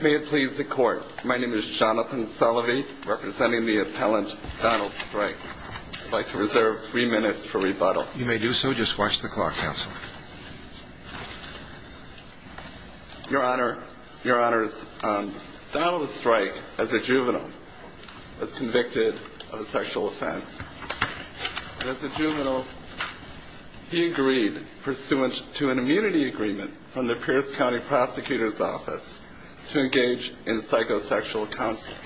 may it please the court my name is Jonathan Sullivan representing the appellant Donald Streich I'd like to reserve three minutes for rebuttal you may do so just watch the clock counsel your honor your honors Donald Streich as a juvenile was convicted of a sexual offense as a juvenile he agreed pursuant to an immunity agreement from the Pierce County Prosecutor's Office to engage in psychosexual counseling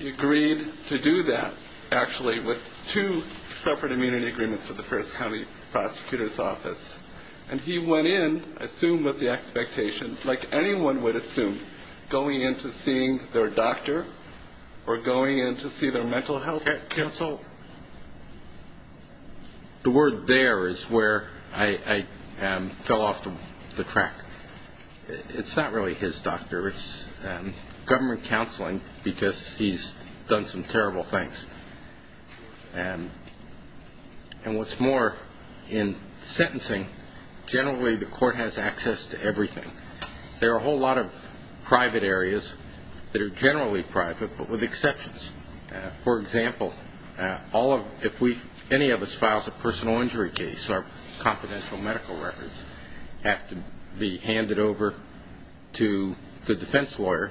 he agreed to do that actually with two separate immunity agreements of the first County Prosecutor's Office and he went in assumed with the expectation like anyone would assume going into seeing their doctor or going in to see their mental health counsel the word there is where I fell off the track it's not really his doctor it's government counseling because he's done some terrible things and and what's more in sentencing generally the court has access to everything there are a whole lot of private areas that are generally private but with exceptions for example all of if we any of us files a personal injury case our confidential medical records have to be handed over to the defense lawyer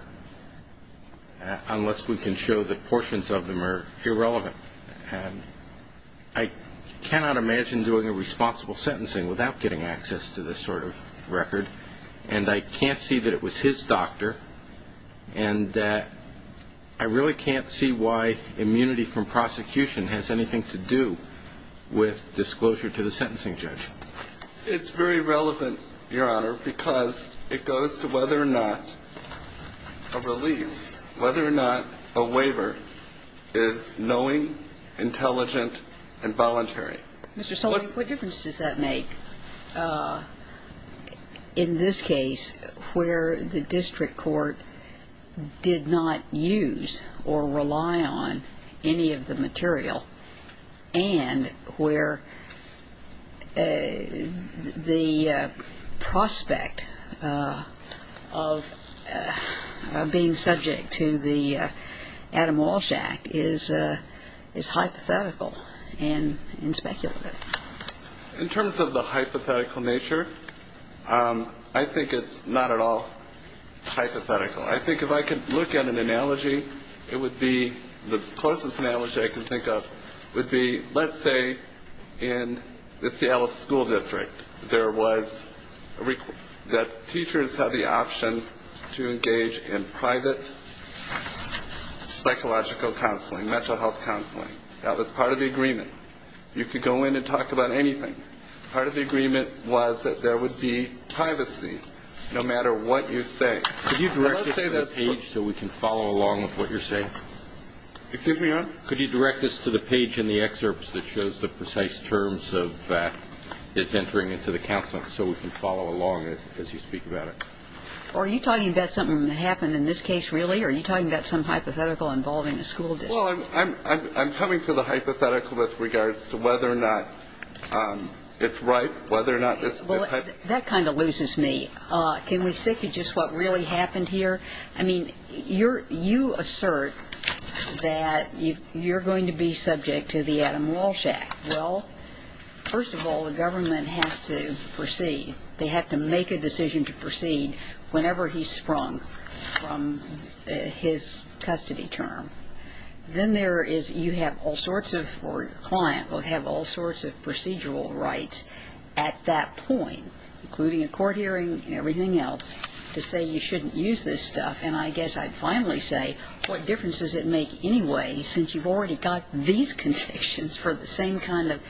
unless we can show the portions of them are irrelevant and I cannot imagine doing a responsible sentencing without getting access to this sort of I really can't see why immunity from prosecution has anything to do with disclosure to the sentencing judge it's very relevant your honor because it goes to whether or not a release whether or not a waiver is knowing intelligent and voluntary what difference does that make in this case where the district court did not use or rely on any of the material and where the prospect of being subject to the Adam Walsh Act is is hypothetical and in speculative in terms of the hypothetical nature I think it's not at all hypothetical I think if I could look at an analogy it would be the closest analogy I can think of would be let's say in the Seattle School District there was that teachers have the option to engage in private psychological counseling mental health counseling that was part of the agreement you could go in and talk about anything part of the agreement was that there would be privacy no matter what you say so we can follow along with what you're saying excuse me could you direct us to the page in the excerpts that shows the precise terms of fact it's entering into the counseling so we can follow along as you speak about it are you talking about something happened in this case really are you talking about some hypothetical with regards to whether or not it's right whether or not this well that kind of loses me can we stick you just what really happened here I mean you're you assert that you you're going to be subject to the Adam Walsh Act well first of all the government has to proceed they have to make a decision to proceed whenever he sprung from his custody term then there is you have all sorts of for client will have all sorts of procedural rights at that point including a court hearing and everything else to say you shouldn't use this stuff and I guess I'd finally say what difference does it make anyway since you've already got these convictions for the same kind of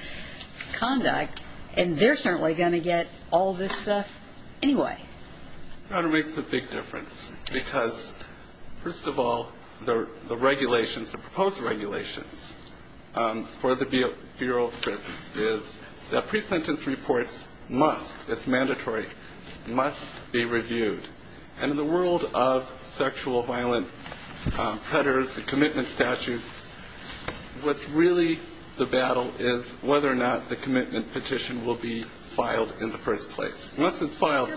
conduct and they're certainly going to get all this stuff anyway it makes a big difference because first of all the regulations the proposed regulations for the bureau is that pre-sentence reports must it's mandatory must be reviewed and in the world of sexual violence headers and commitment statutes what's really the battle is whether or not the commitment petition will be filed in the first place once it's filed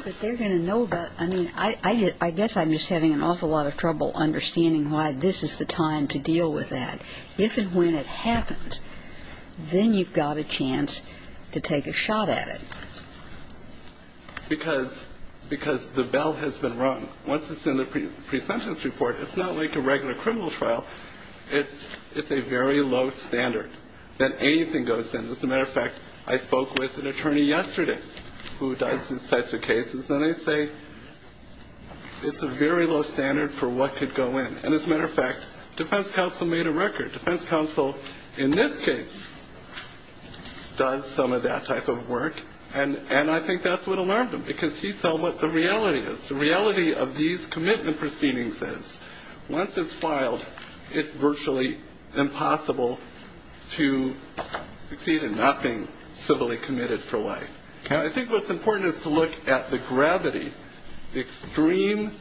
I mean I guess I'm just having an awful lot of trouble understanding why this is the time to deal with that if and when it happens then you've got a chance to take a shot at it because because the bell has been rung once it's in the pre-sentence report it's not like a regular criminal trial it's it's a very low standard that anything goes in as a matter of fact I say it's a very low standard for what could go in and as a matter of fact defense counsel made a record defense counsel in this case does some of that type of work and and I think that's what alarmed him because he saw what the reality is the reality of these commitment proceedings is once it's filed it's virtually impossible to succeed in nothing civilly committed for look at the gravity extreme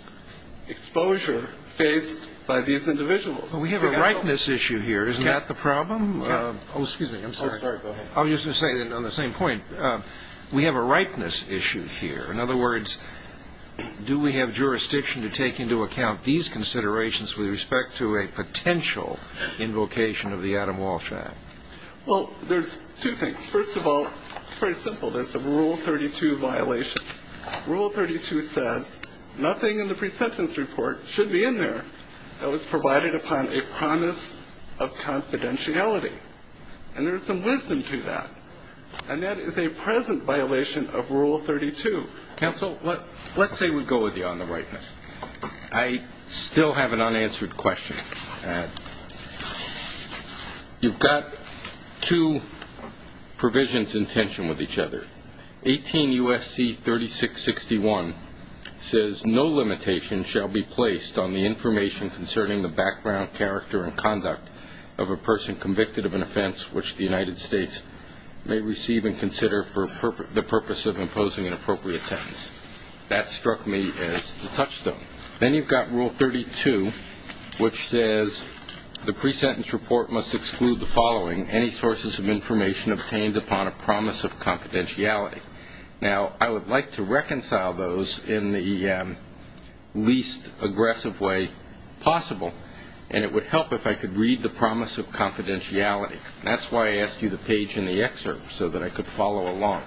exposure faced by these individuals we have a rightness issue here is not the problem I'll just say that on the same point we have a rightness issue here in other words do we have jurisdiction to take into account these considerations with respect to a potential invocation of the Adam Walsh Act well there's two things first of all it's very simple there's a rule 32 violation rule 32 says nothing in the pre-sentence report should be in there that was provided upon a promise of confidentiality and there's some wisdom to that and that is a present violation of rule 32 counsel what let's say we go with you on the rightness I still have an unanswered question you've got two provisions in tension with each other 18 USC 3661 says no limitation shall be placed on the information concerning the background character and conduct of a person convicted of an offense which the United States may receive and consider for the purpose of imposing an appropriate sentence that struck me as the touchstone then you've got rule 32 which says the pre-sentence report must exclude the following any sources of information obtained upon a promise of confidentiality now I would like to reconcile those in the least aggressive way possible and it would help if I could read the promise of confidentiality that's why I asked you the page in the excerpt so that I could follow along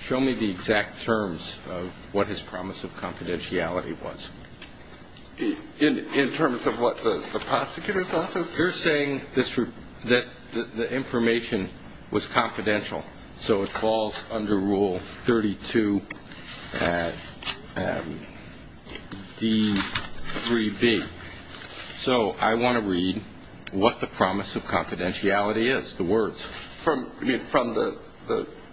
show me the exact terms of what his promise of confidentiality was in in terms of what the prosecutor's office you're saying this route that the information was confidential so it falls under rule 32 d3b so I want to read what the promise of confidentiality is the words from from the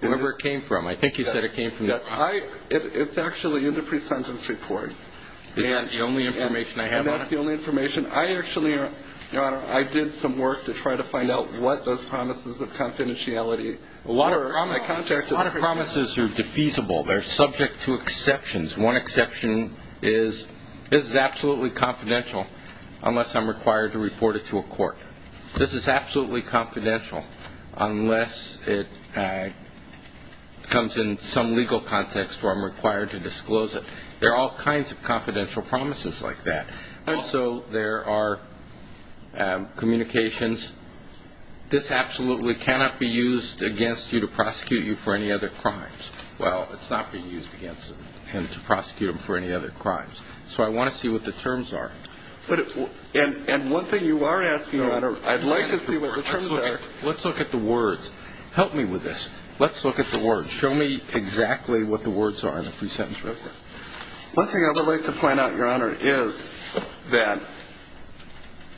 number came from I it's actually in the pre-sentence report and the only information I have that's the only information I actually are I did some work to try to find out what those promises of confidentiality a lot of promises are defeasible they're subject to exceptions one exception is this is absolutely confidential unless I'm required to report it to a court this is absolutely confidential unless it comes in some legal context where I'm required to disclose it there are all kinds of confidential promises like that and so there are communications this absolutely cannot be used against you to prosecute you for any other crimes well it's not being used against him to prosecute him for any other crimes so I want to see what the terms are but and and one thing you are asking I'd like to see what the terms are let's look at the words help me with this let's look at the words show me exactly what the words are in the pre-sentence report one thing I would like to point out your honor is that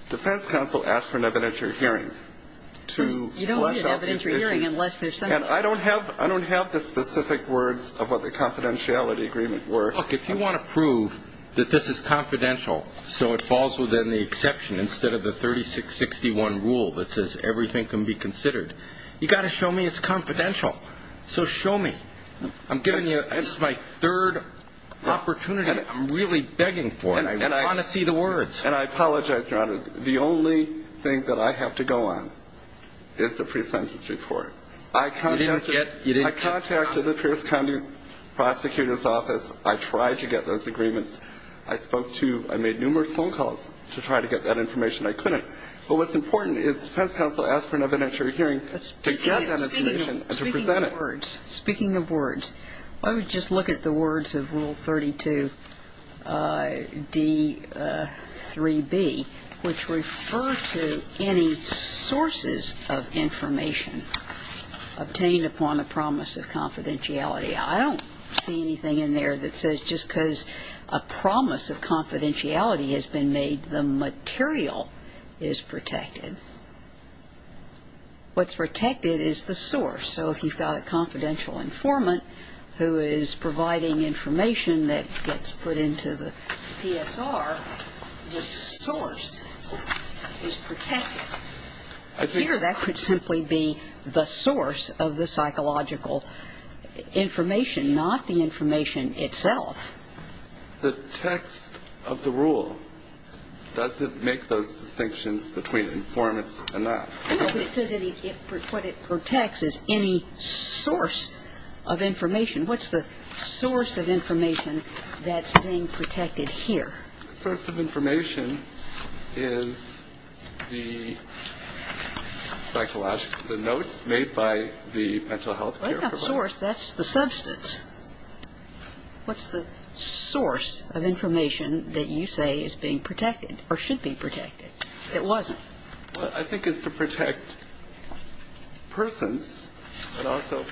defense counsel asked for an evidentiary hearing to you know what an evidentiary hearing unless there's something I don't have I don't have the specific words of what the confidentiality agreement were look if you want to prove that this is 3661 rule that says everything can be considered you got to show me it's confidential so show me I'm giving you this is my third opportunity I'm really begging for it and I want to see the words and I apologize your honor the only thing that I have to go on it's a pre-sentence report I contacted the Pierce County Prosecutor's Office I tried to get those agreements I spoke to I made that information I couldn't but what's important is defense counsel asked for an evidentiary hearing to get that information and to present it. Speaking of words I would just look at the words of rule 32 d3b which refer to any sources of information obtained upon a promise of confidentiality I don't see anything in there that says just because a promise of confidentiality has been made the material is protected what's protected is the source so if you've got a confidential informant who is providing information that gets put into the PSR the source is protected. Here that could simply be the source of the psychological information not the information itself. The text of the rule doesn't make those distinctions between informants and not. What it protects is any source of information what's the source of information that's being protected here? The source of information is the notes made by the mental health care provider. That's not the source that's the substance. What's the source of information that you say is being protected or should be protected? It wasn't. I think it's to protect persons but also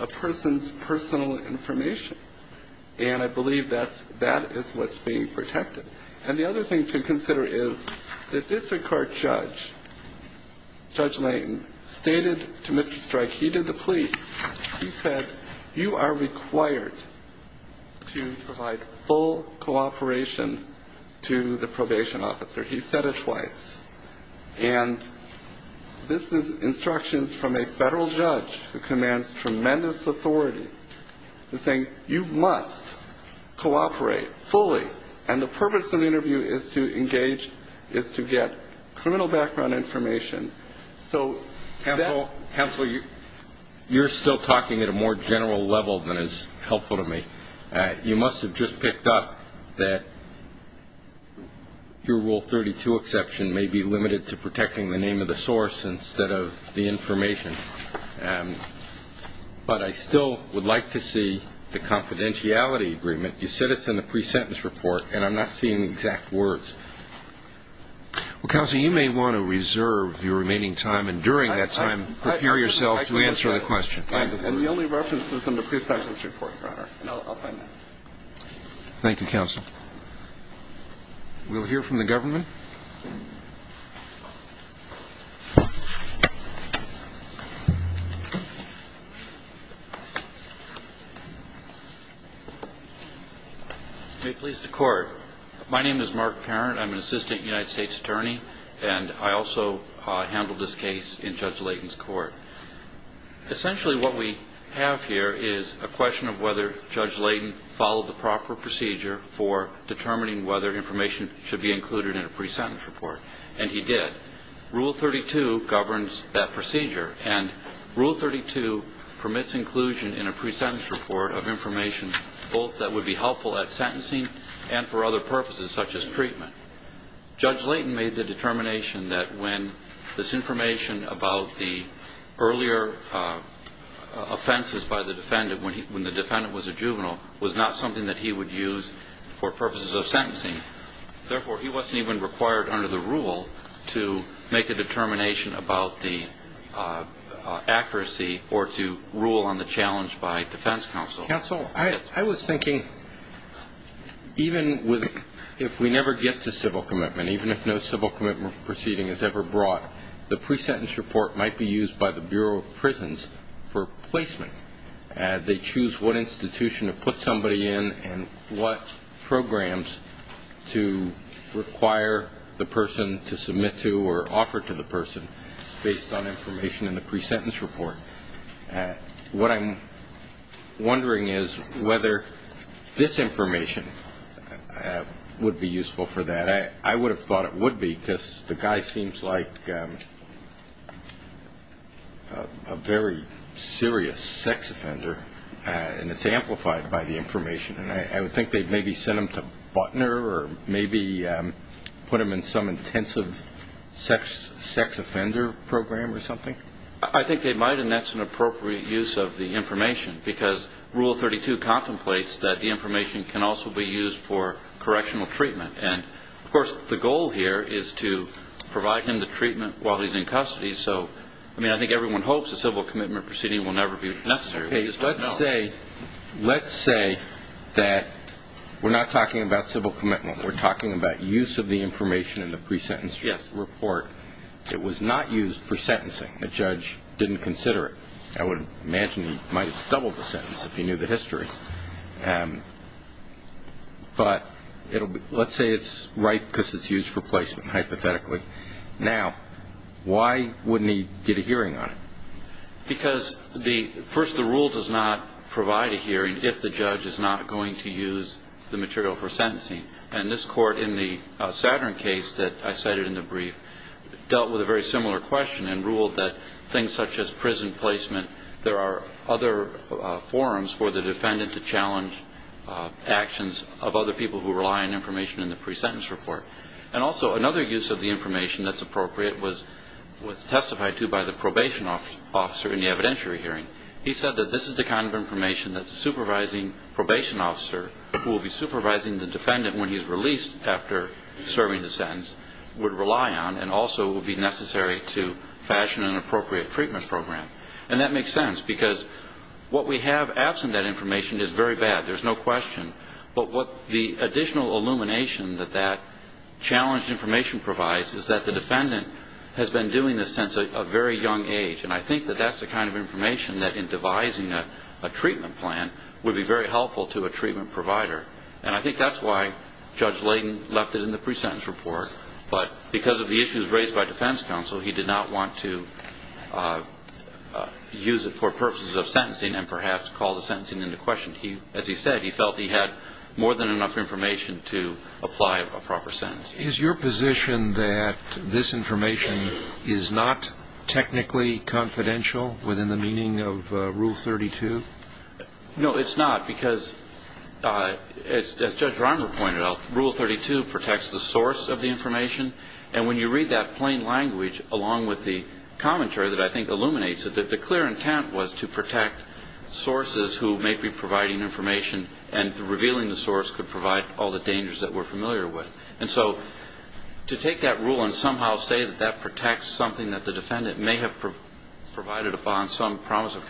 a person's personal information and I believe that is what's being protected. And the other thing to consider is that this court judge, Judge Layton, stated to Mr. Stryke, he did the plea, he said you are required to provide full cooperation to the probation officer. He said it twice. And this is instructions from a saying you must cooperate fully and the purpose of the interview is to engage, is to get criminal background information. So that Counsel, you're still talking at a more general level than is helpful to me. You must have just picked up that your Rule 32 exception may be limited to protecting the name of the source instead of the information. But I still would like to see the confidentiality agreement. You said it's in the pre-sentence report and I'm not seeing the exact words. Well, Counsel, you may want to reserve your remaining time and during that time prepare yourself to answer the question. And the only reference is in the pre-sentence report, Your Honor. Thank you, Counsel. We'll hear from the government. May it please the Court. My name is Mark Parent. I'm an assistant United States Attorney and I also handled this case in Judge Layton's court. Essentially what we have here is a question of whether Judge Layton followed the proper procedure for determining whether information should be included in a pre-sentence report. And he did. Rule 32 governs that procedure and Rule 32 permits inclusion in a pre-sentence report of information both that would be helpful at the time of the sentence. However, the fact that he was making a determination about the earlier offenses by the defendant when the defendant was a juvenile was not something that he would use for purposes of sentencing. Therefore, he wasn't even required under the rule to make a determination about the accuracy or to rule on the challenge by defense counsel. Counsel, I was thinking even with, if we never get to civil commitment, even if no civil commitment proceeding is ever brought, the pre-sentence report might be used by the Bureau of Prisons for placement. They choose what institution to put somebody in and what programs to require the person to submit to or offer to the person based on information in the pre-sentence report. What I'm wondering is whether this information would be useful for that. I would have thought it would be because the guy seems like a very serious sex offender and it's amplified by the information. And I would think they'd maybe send him to Butner or maybe put him in some intensive sex offender program or something. I think they might and that's an appropriate use of the information because Rule 32 contemplates that the information can also be used for correctional treatment. And, of course, the goal here is to provide him the treatment while he's in custody. So, I mean, I think everyone hopes a civil commitment proceeding will never be necessary. Let's say that we're not talking about civil commitment. We're talking about use of the information in the pre-sentence report. It was not used for sentencing. The judge didn't consider it. I would imagine he might have doubled the sentence if he knew the history. But let's say it's right because it's used for placement, hypothetically. Now, why wouldn't he get a hearing on it? Because, first, the rule does not provide a hearing if the judge is not going to use the material for sentencing. And this court in the Saturn case that I cited in the brief dealt with a very similar question and ruled that things such as prison placement, there are other forums for the defendant to challenge actions of other people who rely on information in the pre-sentence report. And also, another use of the information that's appropriate was testified to by the probation officer in the evidentiary hearing. He said that this is the kind of information that the supervising probation officer, who will be supervising the defendant when he's released after serving the sentence, would rely on and also would be necessary to fashion an appropriate treatment program. And that makes sense because what we have absent that information is very bad. There's no question. But what the additional illumination that that challenged information provides is that the defendant has been doing this since a very young age. And I think that that's the kind of information that, in devising a treatment plan, would be very helpful to a treatment provider. And I think that's why Judge Layden left it in the pre-sentence report. But because of the issues raised by defense counsel, he did not want to use it for purposes of sentencing and perhaps call the sentencing into question. As he said, he felt he had more than enough information to apply a proper sentence. Is your position that this information is not technically confidential within the meaning of Rule 32? No, it's not because, as Judge Romer pointed out, Rule 32 protects the source of the information. And when you read that plain language, along with the commentary that I think illuminates it, that the clear intent was to protect sources who may be providing information and revealing the source could provide all the dangers that we're familiar with. And so to take that rule and somehow say that that protects something that the defendant may have provided upon some promise of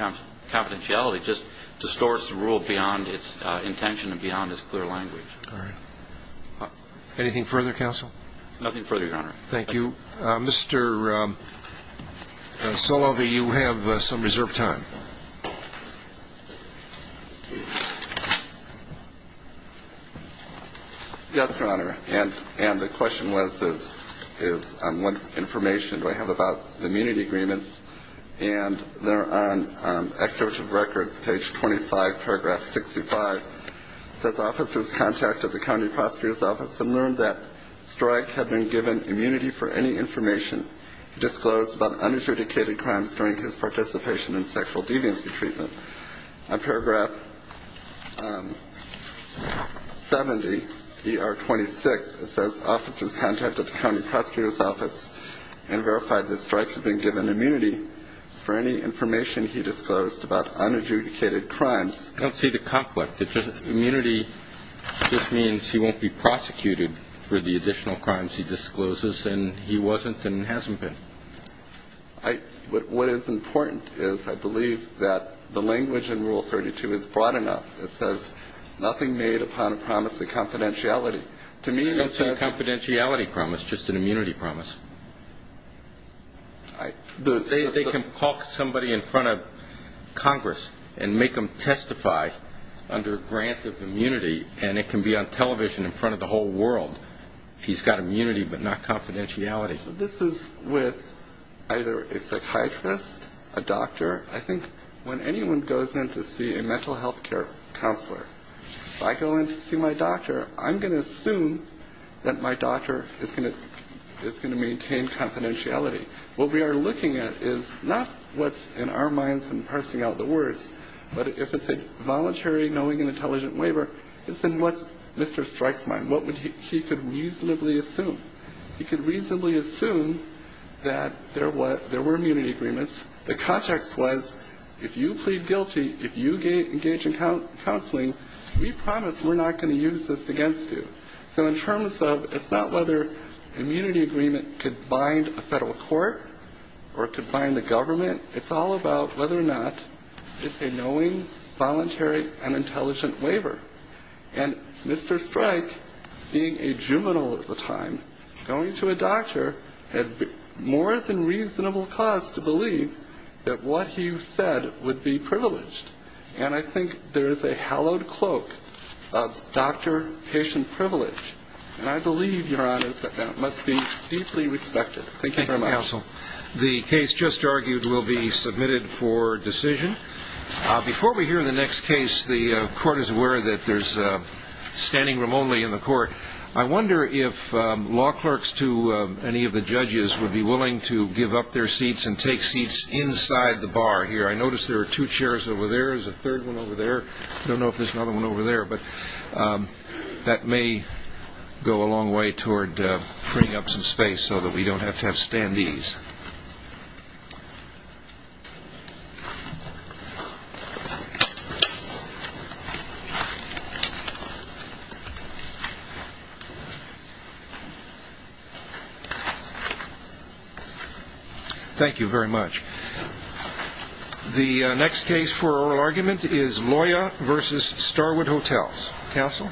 confidentiality just distorts the rule beyond its intention and beyond its clear language. All right. Anything further, counsel? Nothing further, Your Honor. Thank you. Mr. Solovey, you have some reserved time. Yes, Your Honor. And the question was, is what information do I have about the immunity agreements? And they're on Executive Record, page 25, paragraph 65. Does officer's contact at the county prosecutor's office have learned that strike had been given immunity for any information disclosed about unadjudicated crimes during his participation in sexual deviancy treatment? I don't see the conflict. Immunity just means he won't be prosecuted for the additional crimes he discloses. And he wasn't and hasn't been. What is important is I believe that the language in Rule 32 is broad enough. It says nothing made upon a promise of confidentiality. To me, that's not confidentiality. It's just an immunity promise. They can talk somebody in front of Congress and make them testify under grant of immunity, and it can be on television in front of the whole world. He's got immunity but not confidentiality. This is with either a psychiatrist, a doctor. I think when anyone goes in to see a mental health care counselor, if I go in to see my doctor, I'm going to assume that my doctor is going to maintain confidentiality. What we are looking at is not what's in our minds and parsing out the words, but if it's a voluntary knowing and intelligent waiver, it's in what's Mr. Strike's mind. What he could reasonably assume. He could reasonably assume that there were immunity agreements. The context was if you plead guilty, if you engage in counseling, we promise we're not going to use this against you. So in terms of it's not whether immunity agreement could bind a federal court or it could bind the government. It's all about whether or not it's a knowing, voluntary, and intelligent waiver. And Mr. Strike, being a juvenile at the time, going to a doctor, had more than reasonable cause to believe that what he said would be privileged. And I think there is a hallowed cloak of doctor-patient privilege, and I believe, Your Honor, that that must be deeply respected. Thank you very much. Thank you, counsel. The case just argued will be submitted for decision. Before we hear the next case, the court is aware that there's standing room only in the court. I wonder if law clerks to any of the judges would be willing to give up their seats and take seats inside the bar here. I notice there are two chairs over there. There's a third one over there. I don't know if there's another one over there, but that may go a long way toward freeing up some space so that we don't have to have standees. Thank you. Thank you very much. The next case for oral argument is Loya v. Starwood Hotels. Counsel?